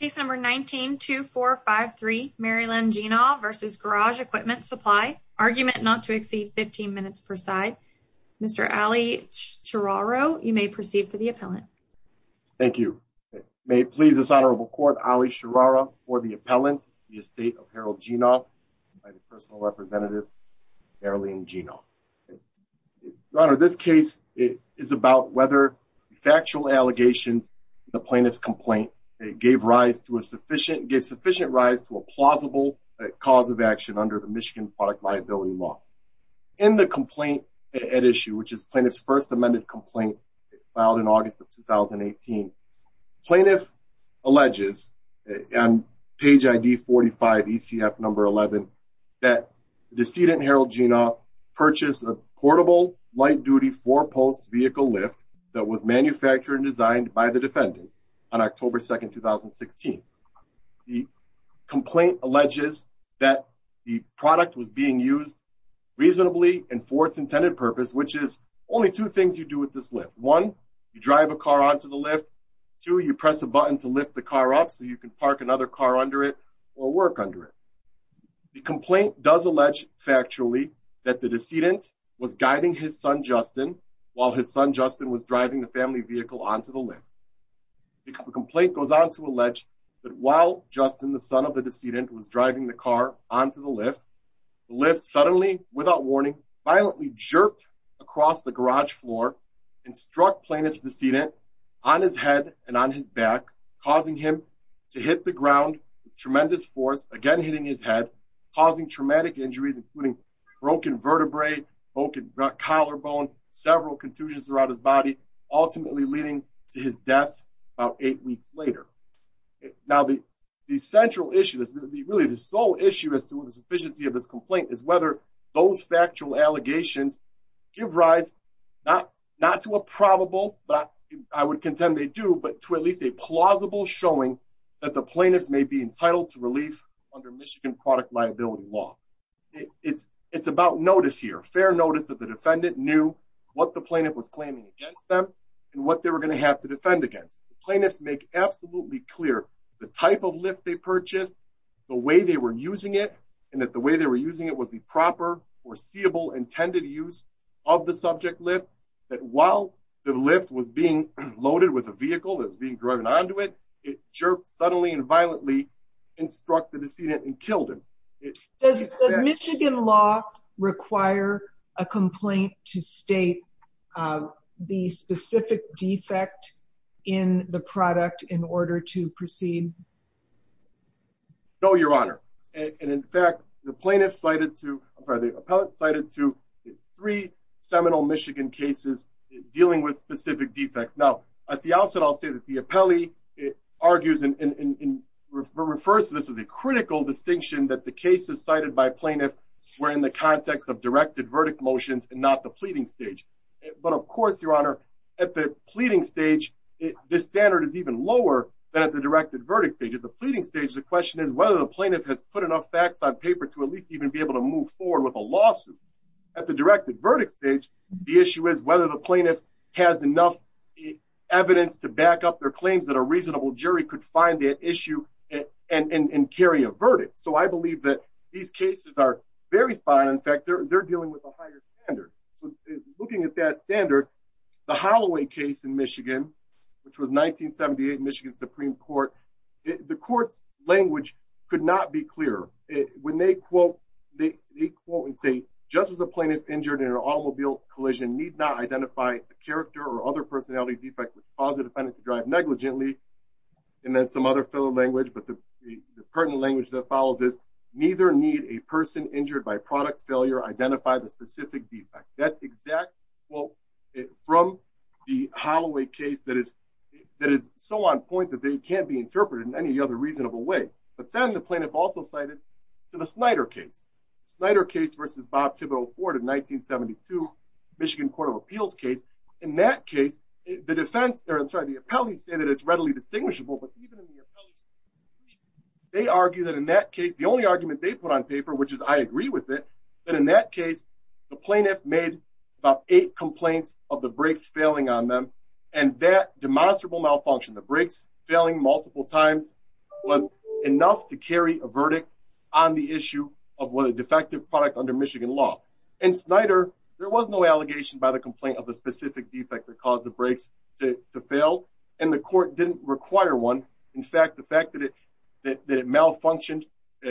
Case number 19-2453, Marylynn Genaw v. Garage Equipment Supply. Argument not to exceed 15 minutes per side. Mr. Ali Chararo, you may proceed for the appellant. Thank you. May it please this honorable court, Ali Chararo, for the appellant, the estate of Harold Genaw, by the personal representative Marilyn Genaw. Your honor, this case is about whether factual allegations of the plaintiff's complaint gave sufficient rise to a plausible cause of action under the Michigan Product Liability Law. In the complaint at issue, which is plaintiff's first amended complaint filed in August of 2018, plaintiff alleges on page ID 45, ECF number 11, that decedent Harold Genaw purchased a portable light-duty four-post vehicle lift that was manufactured and designed by the defendant on October 2, 2016. The complaint alleges that the product was being used reasonably and for its intended purpose, which is only two things you do with this lift. One, you drive a car onto the lift. Two, you press a button to lift the car up so you can park another car under it or work under it. The complaint does allege factually that the decedent was guiding his son, Justin, while his son, Justin, was driving the family vehicle onto the lift. The complaint goes on to allege that while Justin, the son of the decedent, was driving the car onto the lift, the lift suddenly, without warning, violently jerked across the garage floor and struck plaintiff's decedent on his head and on his back, causing him to hit the ground with tremendous force, again hitting his head, causing traumatic injuries, including broken vertebrae, broken collarbone, several contusions throughout his body, ultimately leading to his death about eight weeks later. Now, the central issue, really the sole issue as to the sufficiency of this complaint is whether those factual allegations give rise not to a probable, but I would contend they do, but to at least a plausible showing that the it's about notice here, fair notice that the defendant knew what the plaintiff was claiming against them and what they were going to have to defend against. The plaintiffs make absolutely clear the type of lift they purchased, the way they were using it, and that the way they were using it was the proper, foreseeable, intended use of the subject lift, that while the lift was being loaded with a vehicle that was being driven onto it, it jerked suddenly and violently and struck the decedent and killed him. Does Michigan law require a complaint to state the specific defect in the product in order to proceed? No, Your Honor, and in fact, the plaintiff cited to, or the appellate cited to three seminal Michigan cases dealing with specific defects. Now, at the outset, I'll say that the appellee argues and refers to this as a critical distinction that the cases cited by plaintiff were in the context of directed verdict motions and not the pleading stage. But of course, Your Honor, at the pleading stage, this standard is even lower than at the directed verdict stage. At the pleading stage, the question is whether the plaintiff has put enough facts on paper to at least even be able to move forward with a lawsuit. At the directed verdict stage, the issue is whether the plaintiff has enough evidence to back up their claims that a reasonable jury could find that issue and carry a verdict. So I believe that these cases are very spot on. In fact, they're dealing with a higher standard. So looking at that standard, the Holloway case in Michigan, which was 1978 Michigan Supreme Court, the court's language could not be clearer. When they quote and say, just as a plaintiff injured in an automobile collision need not identify a character or other personality defect with positive tendency to drive negligently, and then some other filler language, but the pertinent language that follows is, neither need a person injured by product failure identify the specific defect. That exact quote from the Holloway case that is so on point that they can't be interpreted in any other reasonable way. But then the plaintiff also cited to the Snyder case, Snyder case versus Bob Tibble Ford in 1972, Michigan Court of Appeals case. In that case, the defense, or I'm sorry, the appellees say that it's readily distinguishable. But even in the appellees, they argue that in that case, the only argument they put on paper, which is I agree with it, that in that case, the plaintiff made about eight complaints of the brakes failing on them. And that demonstrable malfunction, the brakes failing multiple times was enough to carry a verdict on the issue of what a defective product under Michigan law. And Snyder, there was no allegation by the complaint of a specific defect that caused the brakes to fail. And the court didn't require one. In fact, the fact that it that it malfunctioned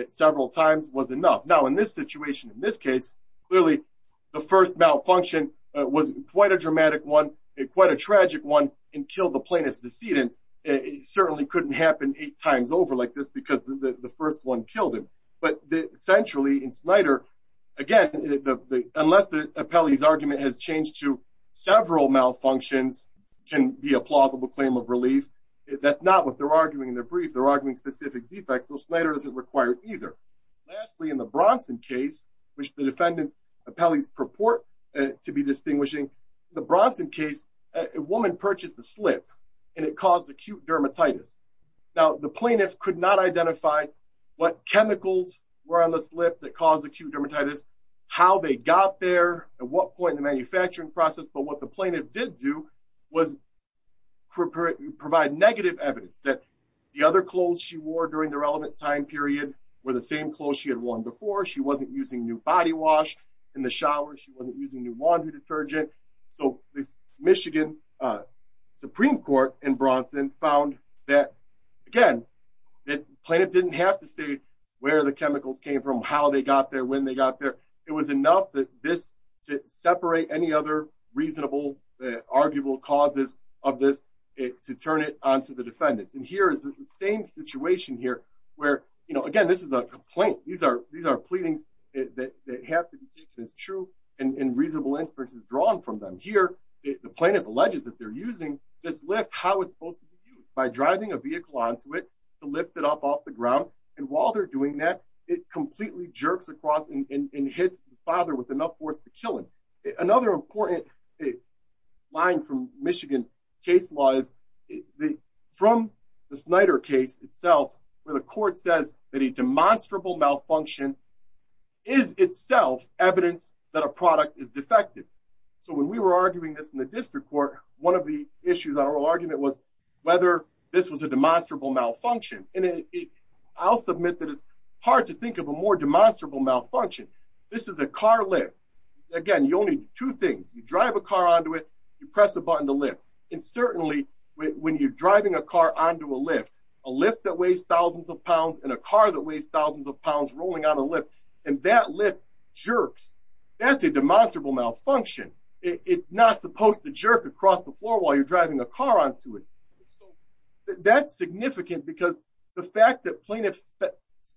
several times was enough. Now in this situation, in this case, clearly, the first malfunction was quite a dramatic one, quite a tragic one, and killed the plaintiff's decedent. It certainly couldn't happen eight times over like this because the first one killed him. But centrally in Snyder, again, unless the appellee's argument has changed to several malfunctions can be a plausible claim of relief. That's not what they're arguing in their brief. They're arguing specific defects. So Snyder doesn't require either. Lastly, in the Bronson case, which the defendant's purport to be distinguishing, the Bronson case, a woman purchased a slip and it caused acute dermatitis. Now the plaintiff could not identify what chemicals were on the slip that caused acute dermatitis, how they got there, at what point in the manufacturing process. But what the plaintiff did do was provide negative evidence that the other clothes she wore during the relevant time were the same clothes she had worn before. She wasn't using new body wash in the shower. She wasn't using new laundry detergent. So this Michigan Supreme Court in Bronson found that, again, the plaintiff didn't have to say where the chemicals came from, how they got there, when they got there. It was enough that this, to separate any other reasonable, arguable causes of this, to turn it onto the defendants. And here is the same situation here where, again, this is a complaint. These are pleadings that have to be taken as true and reasonable inferences drawn from them. Here, the plaintiff alleges that they're using this lift, how it's supposed to be used, by driving a vehicle onto it to lift it up off the ground. And while they're doing that, it completely jerks across and hits the father with enough force to kill him. Another important line from Michigan case law is from the Snyder case itself, where the court says that a demonstrable malfunction is itself evidence that a product is defective. So when we were arguing this in the district court, one of the issues, our argument was whether this was a demonstrable malfunction. And I'll submit that it's hard to think of a more demonstrable malfunction. This is a car lift. Again, you only do two things. You drive a car onto it, you press a button to lift. And certainly when you're driving a car onto a lift, a lift that weighs thousands of pounds and a car that weighs thousands of pounds rolling on a lift, and that lift jerks, that's a demonstrable malfunction. It's not supposed to jerk across the floor while you're driving a car onto it. So that's significant because the fact that plaintiffs,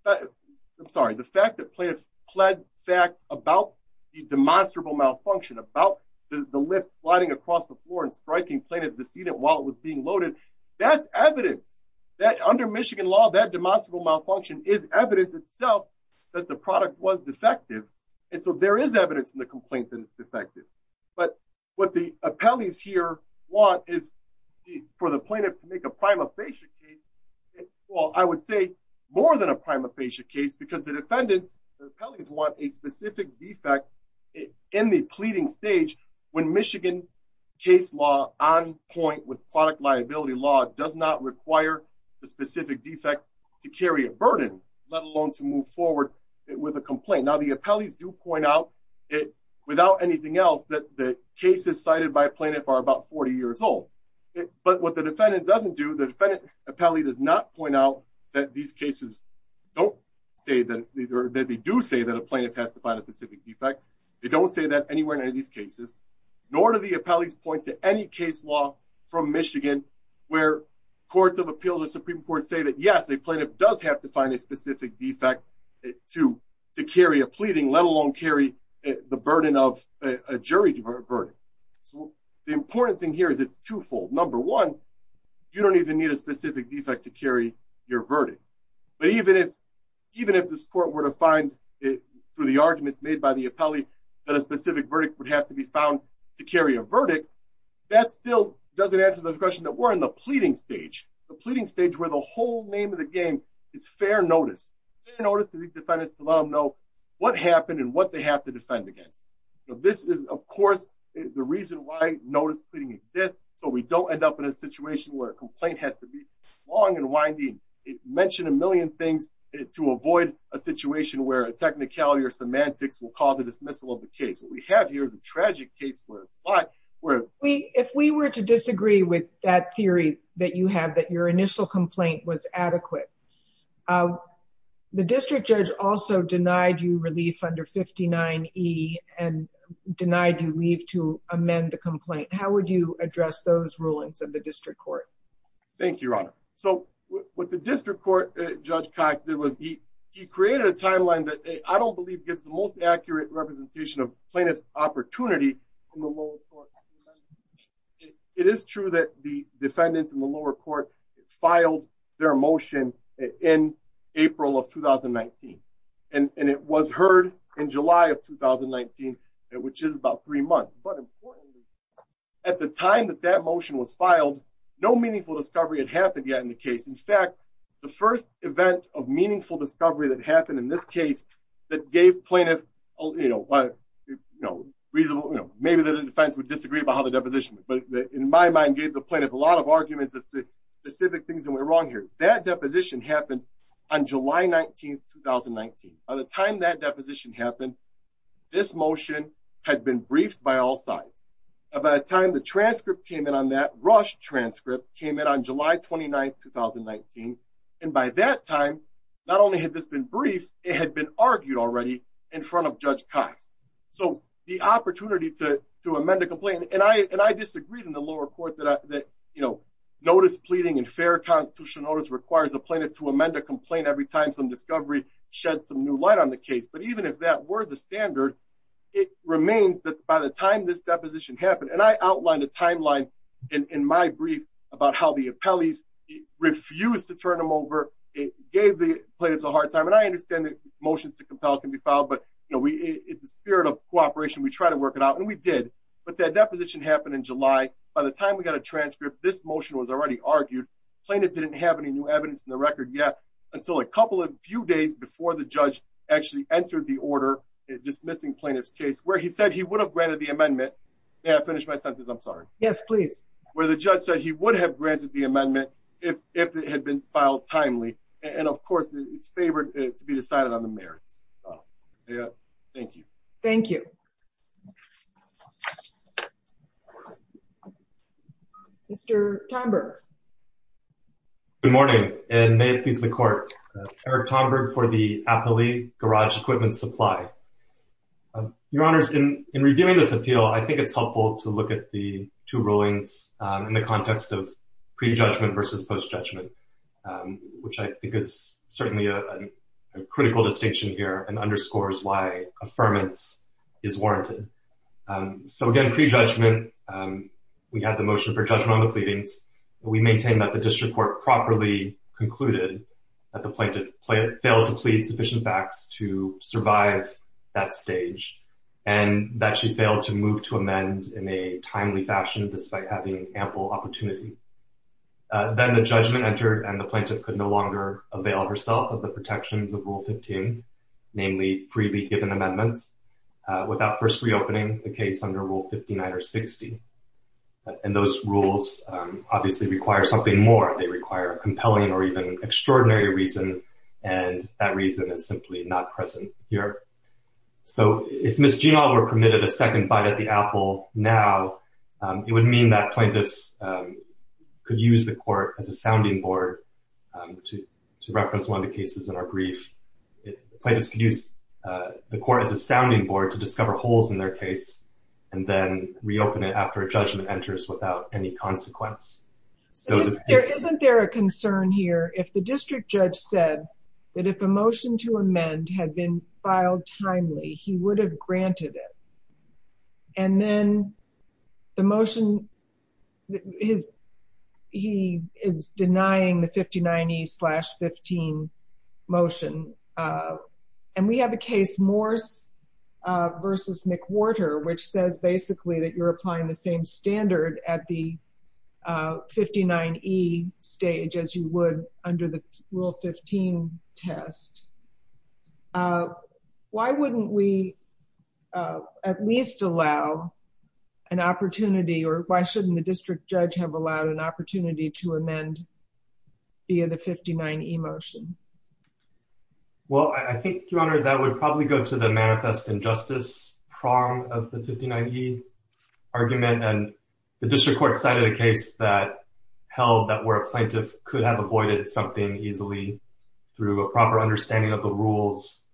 I'm sorry, the fact that plaintiffs plead facts about the demonstrable malfunction, about the lift sliding across the floor and striking plaintiff's decedent while it was being loaded, that's evidence that under Michigan law, that demonstrable malfunction is evidence itself that the product was defective. And so there is evidence in the complaint that it's defective. But what the appellees here want is for the plaintiff to make a prima facie case, well, I would say more than a prima facie case, because the defendants, the appellees want a specific defect in the pleading stage when Michigan case law on point with product liability law does not require the specific defect to carry a burden, let alone to move forward with a complaint. Now, the appellees do point out it without anything else that the cases cited by plaintiff are about 40 years old. But what the defendant doesn't do, the defendant appellee does not point out that these cases don't that they do say that a plaintiff has to find a specific defect. They don't say that anywhere in any of these cases, nor do the appellees point to any case law from Michigan, where courts of appeals or Supreme Court say that yes, a plaintiff does have to find a specific defect to carry a pleading, let alone carry the burden of a jury verdict. So the important thing here is it's twofold. Number one, you don't even need a specific defect to carry your verdict. But even if this court were to find it through the arguments made by the appellee that a specific verdict would have to be found to carry a verdict, that still doesn't answer the question that we're in the pleading stage. The pleading stage where the whole name of the game is fair notice. Fair notice to these defendants to let them know what happened and what they have to defend against. This is of course, the reason why notice pleading exists. So we don't end up in a situation where a complaint has to be long and winding. It mentioned a million things to avoid a situation where a technicality or semantics will cause a dismissal of the case. What we have here is a tragic case where it's like... If we were to disagree with that theory that you have, that your initial complaint was adequate, the district judge also denied you relief under 59E and denied you leave to amend the complaint. How would you address those rulings of the district court? Thank you, Your Honor. So what the district court judge Cox did was he created a timeline that I don't believe gives the most accurate representation of plaintiff's opportunity from the lower court. It is true that the defendants in the lower court filed their motion in April of 2019. And it was heard in July of 2019, which is about three months. But importantly, at the time that that motion was filed, no meaningful discovery had happened yet in the case. In fact, the first event of meaningful discovery that happened in this case that gave plaintiff... Maybe the defense would disagree about how the deposition, but in my mind gave the plaintiff a lot of arguments, specific things that went wrong here. That deposition happened on July 19th, 2019. By the time that deposition happened, this motion had been briefed by all sides. By the time the transcript came in on that, Rush transcript came in on July 29th, 2019. And by that time, not only had this been briefed, it had been argued already in front of Judge Cox. So the opportunity to amend a complaint... And I disagreed in the lower court that notice pleading in fair constitutional notice requires a plaintiff to amend a complaint every time some discovery shed some new light on the case. But even if that were the standard, it remains that by the time this deposition happened, and I outlined a timeline in my brief about how the appellees refused to turn them over, it gave the plaintiffs a hard time. And I understand that motions to compel can be filed, but in the spirit of cooperation, we try to work it out and we did. But that deposition happened in July. By the time we got a transcript, this motion was already argued. Plaintiff didn't have any new evidence in the record yet until a couple of few days before the judge actually entered the order dismissing plaintiff's case where he said he would have granted the amendment... May I finish my sentence? I'm sorry. Yes, please. Where the judge said he would have granted the amendment if it had been filed timely. And of course, it's favored to be decided on the merits. Thank you. Thank you. Mr. Tonberg. Good morning and may it please the court. Eric Tonberg for the Garage Equipment Supply. Your honors, in reviewing this appeal, I think it's helpful to look at the two rulings in the context of pre-judgment versus post-judgment, which I think is certainly a critical distinction here and underscores why affirmance is warranted. So again, pre-judgment, we have the motion for judgment on the pleadings. We maintain that the plaintiff had sufficient facts to survive that stage and that she failed to move to amend in a timely fashion despite having ample opportunity. Then the judgment entered and the plaintiff could no longer avail herself of the protections of Rule 15, namely freely given amendments, without first reopening the case under Rule 59 or 60. And those rules obviously require something more. They require compelling or even extraordinary reason, and that reason is simply not present here. So if Ms. Genahl were permitted a second bite at the apple now, it would mean that plaintiffs could use the court as a sounding board to reference one of the cases in our brief. Plaintiffs could use the court as a sounding board to discover holes in their case and then reopen it after a judgment enters without any consequence. So isn't there a concern here if the district judge said that if a motion to amend had been filed timely, he would have granted it. And then the motion he is denying the 59E slash 15 motion. And we have a case, Morse versus McWhorter, which says basically that you're applying the same standard at the 59E stage as you would under the Rule 15 test. Why wouldn't we at least allow an opportunity or why shouldn't the district judge have allowed an opportunity to amend via the 59E motion? Well, I think, Your Honor, that would probably go to the manifest injustice prong of the 59E argument. And the district court cited a case that held that where a plaintiff could have avoided something easily through a proper understanding of the rules,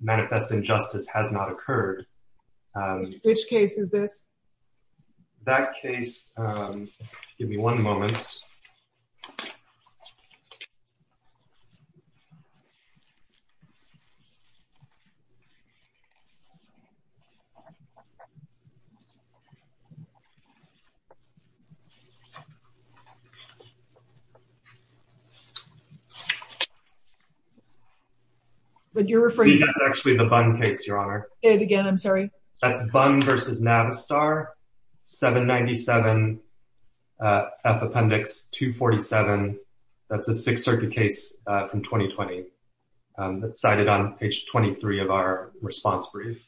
manifest injustice has not occurred. Which case is this? That case, give me one moment. But you're referring to actually the Bunn case, Your Honor. Again, I'm sorry. That's Bunn versus Navistar, 797F Appendix 247. That's a Sixth Circuit case from 2020 that's cited on page 23 of our response brief.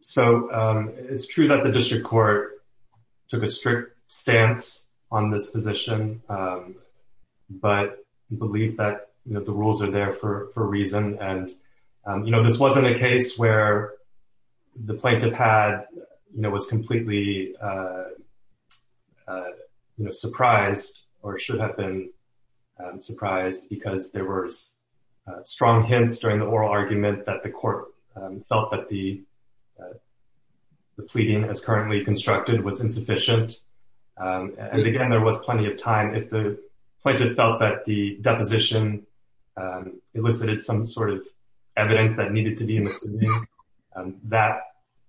So it's true that the district court took a strict stance on this position, but we believe that the rules are there for a reason. And this wasn't a case where the plaintiff was completely surprised or should have been surprised because there were strong hints during the oral argument that the court felt that the pleading as currently constructed was insufficient. And again, there was plenty of time. If the plaintiff felt that the deposition elicited some sort of evidence that needed to be made, that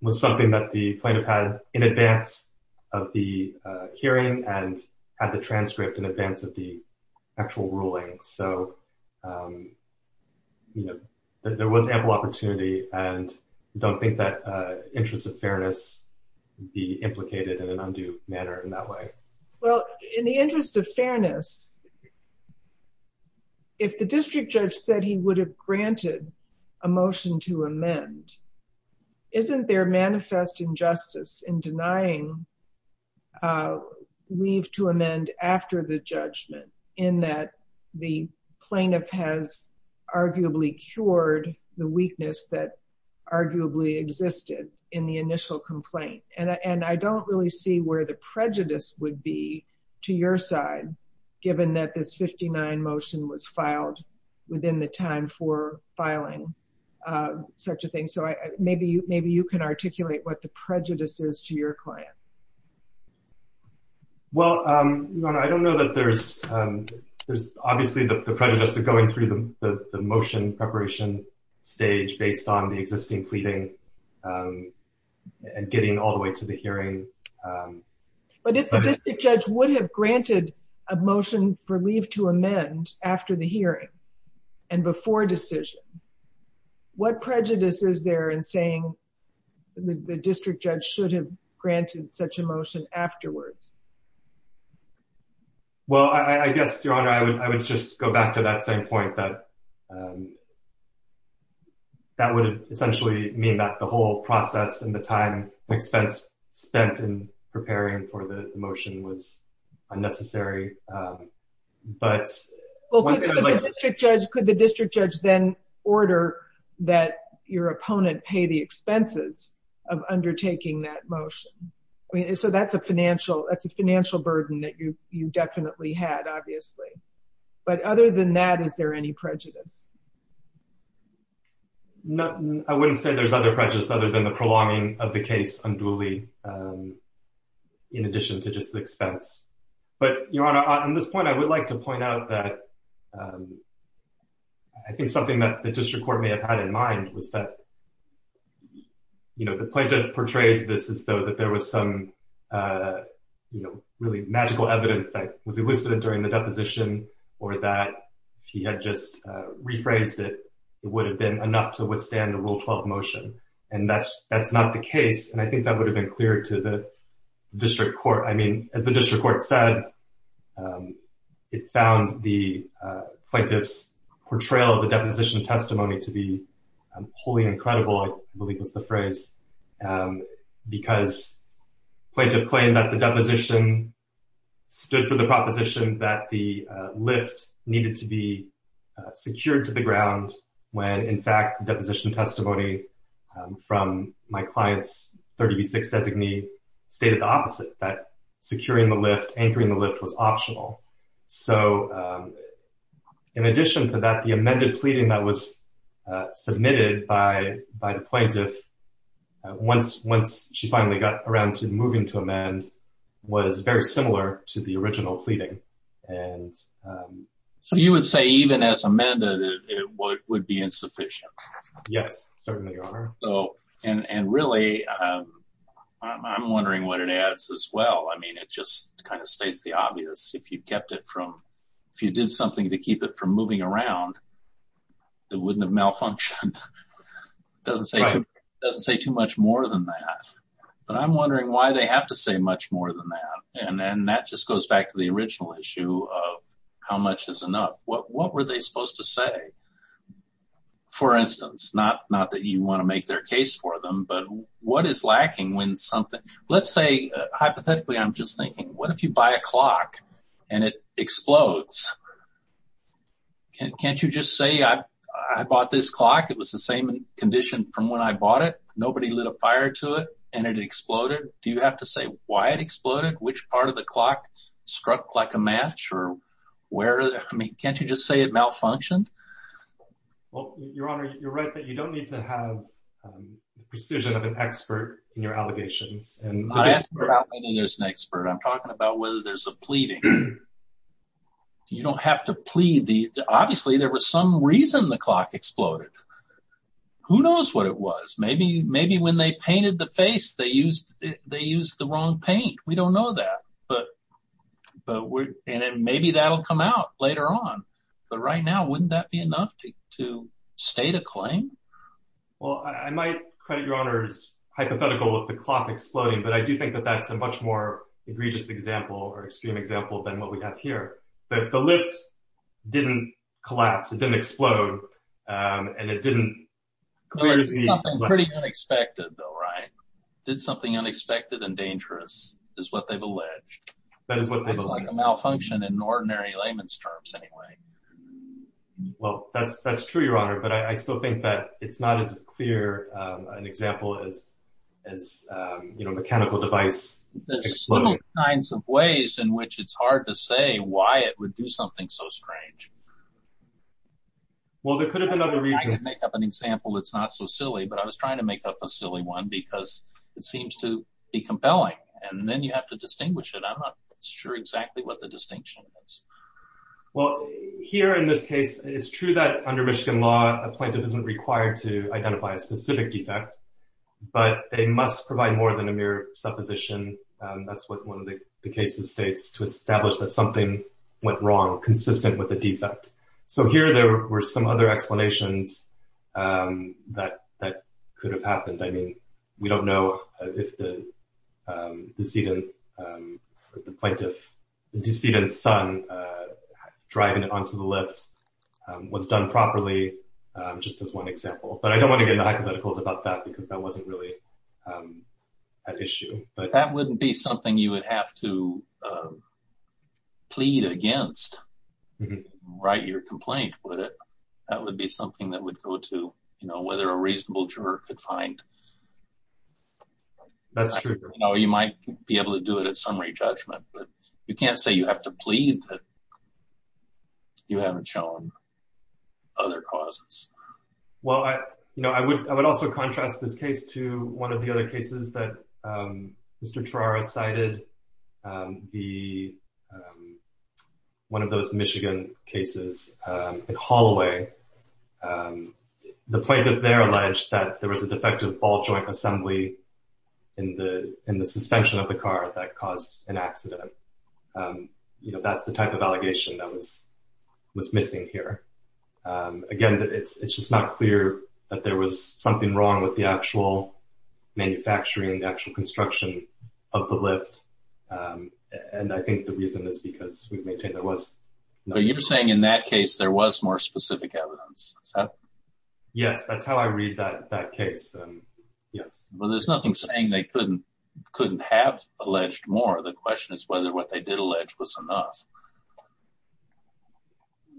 was something that the plaintiff had in advance of the hearing and had the transcript in advance of the actual ruling. So there was ample opportunity and don't think that interest of fairness be implicated in an undue manner in that way. Well, in the interest of fairness, if the district judge said he would have granted a motion to amend, isn't there manifest injustice in denying leave to amend after the judgment in that the plaintiff has arguably cured the weakness that arguably existed in the initial complaint? And I don't really see where the prejudice would be to your side, given that this 59 motion was filed within the time for filing such a thing. Maybe you can articulate what the prejudice is to your client. Well, I don't know that there's obviously the prejudice of going through the motion preparation stage based on the existing pleading and getting all the way to the hearing. But if the district judge would have granted a motion for leave to amend after the hearing and before decision, what prejudice is there in saying the district judge should have granted such a motion afterwards? Well, I guess, Your Honor, I would just go back to that same point that that would essentially mean that the whole process and the time and expense spent in preparing for the motion was unnecessary. Well, could the district judge then order that your opponent pay the expenses of undertaking that motion? I mean, so that's a financial burden that you definitely had, obviously. But other than that, is there any prejudice? I wouldn't say there's other prejudice other than the prolonging of the case unduly in addition to just the expense. But, Your Honor, on this point, I would like to point out that I think something that the district court may have had in mind was that, you know, the plaintiff portrays this as though that there was some, you know, really magical evidence that was elicited during the deposition or that if he had just rephrased it, it would have been enough to withstand the Rule 12 motion. And that's not the case. And I think that would have been clear to the district court. I mean, as the district court said, it found the plaintiff's portrayal of the deposition testimony to be wholly incredible, I believe was the phrase, because plaintiff claimed that the deposition stood for the proposition that the lift needed to be secured to the ground when, in fact, deposition testimony from my client's 30B6 designee stated the opposite, that securing the lift, anchoring the lift was optional. So, in addition to that, the amended pleading that was submitted by the plaintiff, once she finally got around to moving to amend, was very similar to the Yes, certainly, Your Honor. So, and really, I'm wondering what it adds as well. I mean, it just kind of states the obvious, if you kept it from, if you did something to keep it from moving around, it wouldn't have malfunctioned. Doesn't say too much more than that. But I'm wondering why they have to say much more than that. And that just goes back to the original issue of how much is enough? What were they not, not that you want to make their case for them, but what is lacking when something, let's say, hypothetically, I'm just thinking, what if you buy a clock, and it explodes? Can't you just say, I bought this clock, it was the same condition from when I bought it, nobody lit a fire to it, and it exploded? Do you have to say why it exploded? Which part of the clock struck like a match? Or where? I mean, can't you just say it malfunctioned? Well, Your Honor, you're right that you don't need to have the precision of an expert in your allegations. I'm not asking about whether there's an expert. I'm talking about whether there's a pleading. You don't have to plead. Obviously, there was some reason the clock exploded. Who knows what it was? Maybe when they painted the face, they used the wrong paint. We don't to state a claim. Well, I might credit Your Honor's hypothetical with the clock exploding, but I do think that that's a much more egregious example or extreme example than what we have here. But the lift didn't collapse. It didn't explode. And it didn't pretty unexpected though, right? Did something unexpected and dangerous, is what they've alleged. That is what it looks like a malfunction in ordinary layman's terms anyway. Well, that's true, Your Honor. But I still think that it's not as clear an example as mechanical device. There's several kinds of ways in which it's hard to say why it would do something so strange. Well, there could have been other reasons. I can make up an example that's not so silly, but I was trying to make up a silly one because it seems to be compelling. And then you have to distinguish it. I'm not sure exactly what the distinction is. Well, here in this case, it's true that under Michigan law, a plaintiff isn't required to identify a specific defect, but they must provide more than a mere supposition. That's what one of the cases states to establish that something went wrong consistent with a defect. So here, there were some other explanations that could have happened. I mean, we don't know if the plaintiff's son driving it onto the lift was done properly, just as one example. But I don't want to get into hypotheticals about that because that wasn't really an issue. That wouldn't be something you would have to plead against, write your complaint with it. That would be something that would go to whether a reasonable juror could find. You might be able to do it at summary judgment, but you can't say you have to plead that you haven't shown other causes. Well, I would also contrast this case to one of the other cases that Mr. Trara cited, one of those Michigan cases in Holloway. The plaintiff there alleged that there was a defective ball joint assembly in the suspension of the car that caused an accident. That's the type of allegation that was missing here. Again, it's just not clear that there was something wrong with the actual manufacturing, the actual construction of the lift. And I think the reason is because we've maintained there was. But you're saying in that case, there was more specific evidence. Yes, that's how I read that case. Yes. Well, there's nothing saying they couldn't have alleged more. The question is whether what they did allege was enough.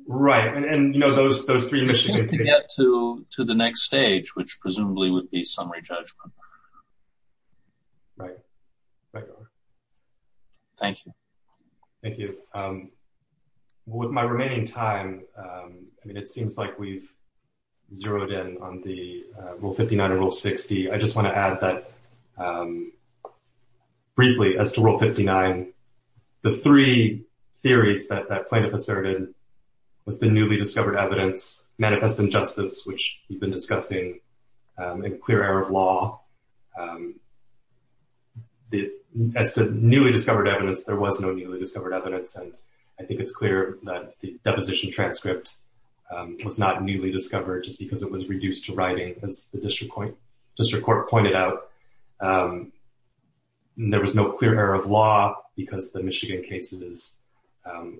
Right. And, you know, those three Michigan cases. To the next stage, which presumably would be summary judgment. Thank you. Thank you. With my remaining time, I mean, it seems like we've zeroed in on the Rule 59 and Rule 60. I just want to add that briefly as to Rule 59, the three theories that that plaintiff asserted was the newly discovered evidence, manifest injustice, which we've been discussing, and clear error of law. As to newly discovered evidence, there was no newly discovered evidence. And I think it's clear that the deposition transcript was not newly discovered just because it was reduced to writing, as the District Court pointed out. There was no clear error of law because the Michigan cases,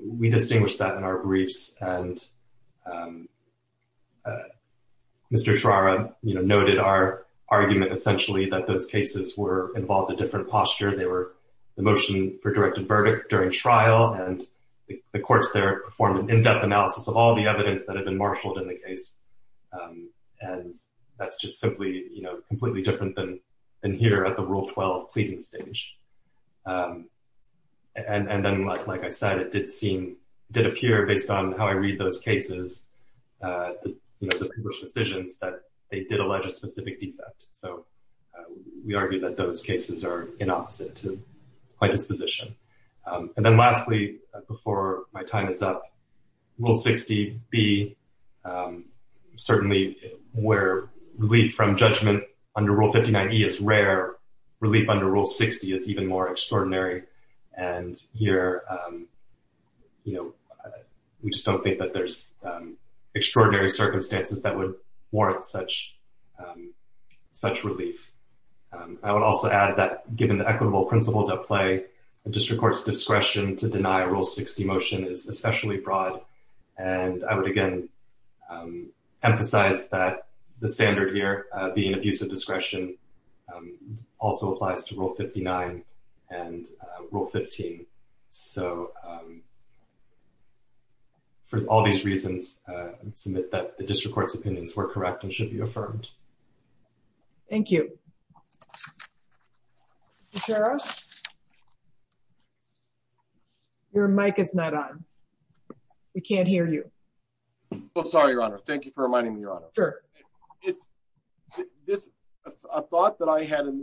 we distinguished that in our briefs. And Mr. Tarara, you know, noted our argument, essentially, that those cases were involved a different posture. They were the motion for directed verdict during trial, and the courts there performed an in-depth analysis of all the evidence that had been marshaled in the case. And that's just simply, you know, completely different than here at the Rule 12 pleading stage. And then, like I said, it did appear, based on how I read those cases, you know, the published decisions, that they did allege a specific defect. So, we argue that those cases are inopposite to my disposition. And then lastly, before my time is up, Rule 60B, certainly, where relief from judgment under Rule 59E is rare, relief under Rule 60 is even more extraordinary. And here, you know, we just don't think that there's extraordinary circumstances that would warrant such relief. I would also add that, given the equitable principles at play, the District Court's discretion to deny a Rule 60 motion is especially broad. And I would, again, emphasize that the standard here, being abuse of discretion, also applies to Rule 59 and Rule 15. So, for all these reasons, submit that the District Court's opinions were correct and should be affirmed. Thank you. Your mic is not on. We can't hear you. Well, sorry, Your Honor. Thank you for reminding me, Your Honor. Sure. It's a thought that I had in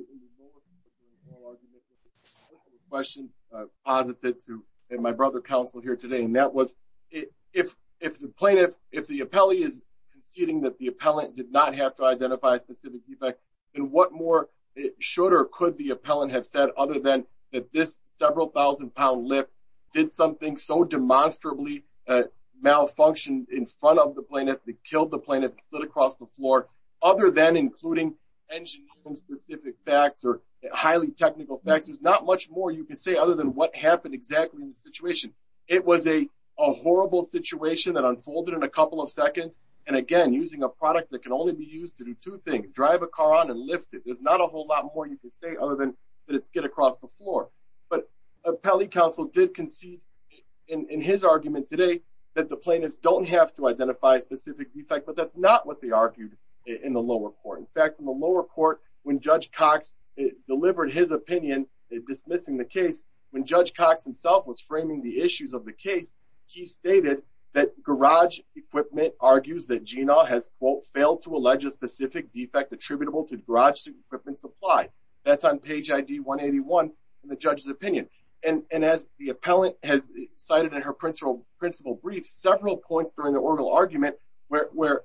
the question I've posited to my brother counsel here today. And if the plaintiff, if the appellee is conceding that the appellant did not have to identify a specific defect, then what more should or could the appellant have said other than that this several thousand pound lift did something so demonstrably malfunctioned in front of the plaintiff that killed the plaintiff and slid across the floor, other than including engineering specific facts or highly technical facts? There's not much more you can say other than what happened exactly in the situation. It was a horrible situation that unfolded in a couple of seconds. And again, using a product that can only be used to do two things, drive a car on and lift it. There's not a whole lot more you can say other than that it's get across the floor. But appellee counsel did concede in his argument today that the plaintiffs don't have to identify a specific defect, but that's not what they argued in the lower court. In fact, in the lower court, when dismissing the case, when Judge Cox himself was framing the issues of the case, he stated that garage equipment argues that Gina has, quote, failed to allege a specific defect attributable to garage equipment supply. That's on page ID 181 in the judge's opinion. And as the appellant has cited in her principal brief, several points during the oral argument where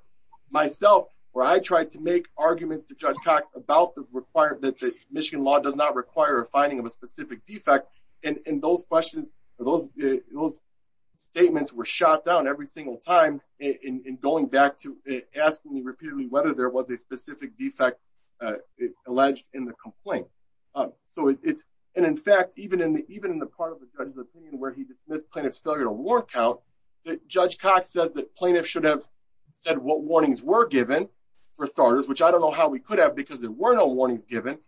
myself, where I tried to make arguments to Judge Cox about the requirement that the Michigan law does not require a finding of a specific defect. And those questions, those statements were shot down every single time in going back to asking me repeatedly whether there was a specific defect alleged in the complaint. And in fact, even in the part of the judge's opinion where he dismissed plaintiff's failure to warrant count, Judge Cox says that plaintiffs should have said what warnings were given, for starters, which I don't know how we could have because there were no warnings given,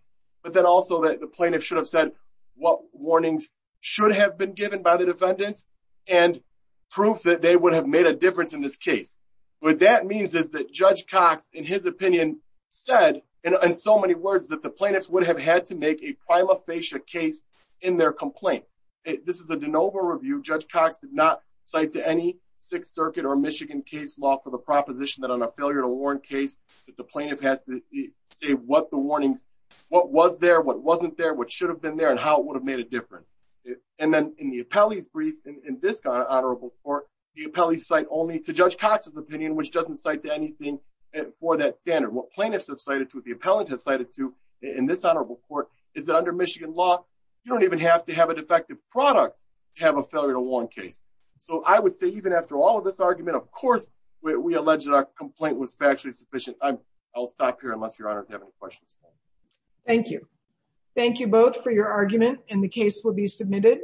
but then also that the plaintiff should have said what warnings should have been given by the defendants and proof that they would have made a difference in this case. What that means is that Judge Cox, in his opinion, said in so many words that the plaintiffs would have had to make a prima facie case in their complaint. This is a de novo review. Judge Cox did not cite to any Sixth Circuit or Michigan case law for the proposition that on a failure to warrant case that the plaintiff has to say what the warnings, what was there, what wasn't there, what should have been there, and how it would have made a difference. And then in the appellee's brief in this honorable court, the appellee cite only to Judge Cox's opinion, which doesn't cite to anything for that standard. What plaintiffs have cited to, what the appellant has cited to in this honorable court is that under Michigan law, you don't even have to have a defective product to have a failure to warrant case. So I would say even after all of this argument, of I'll stop here unless your honor to have any questions. Thank you. Thank you both for your argument and the case will be submitted.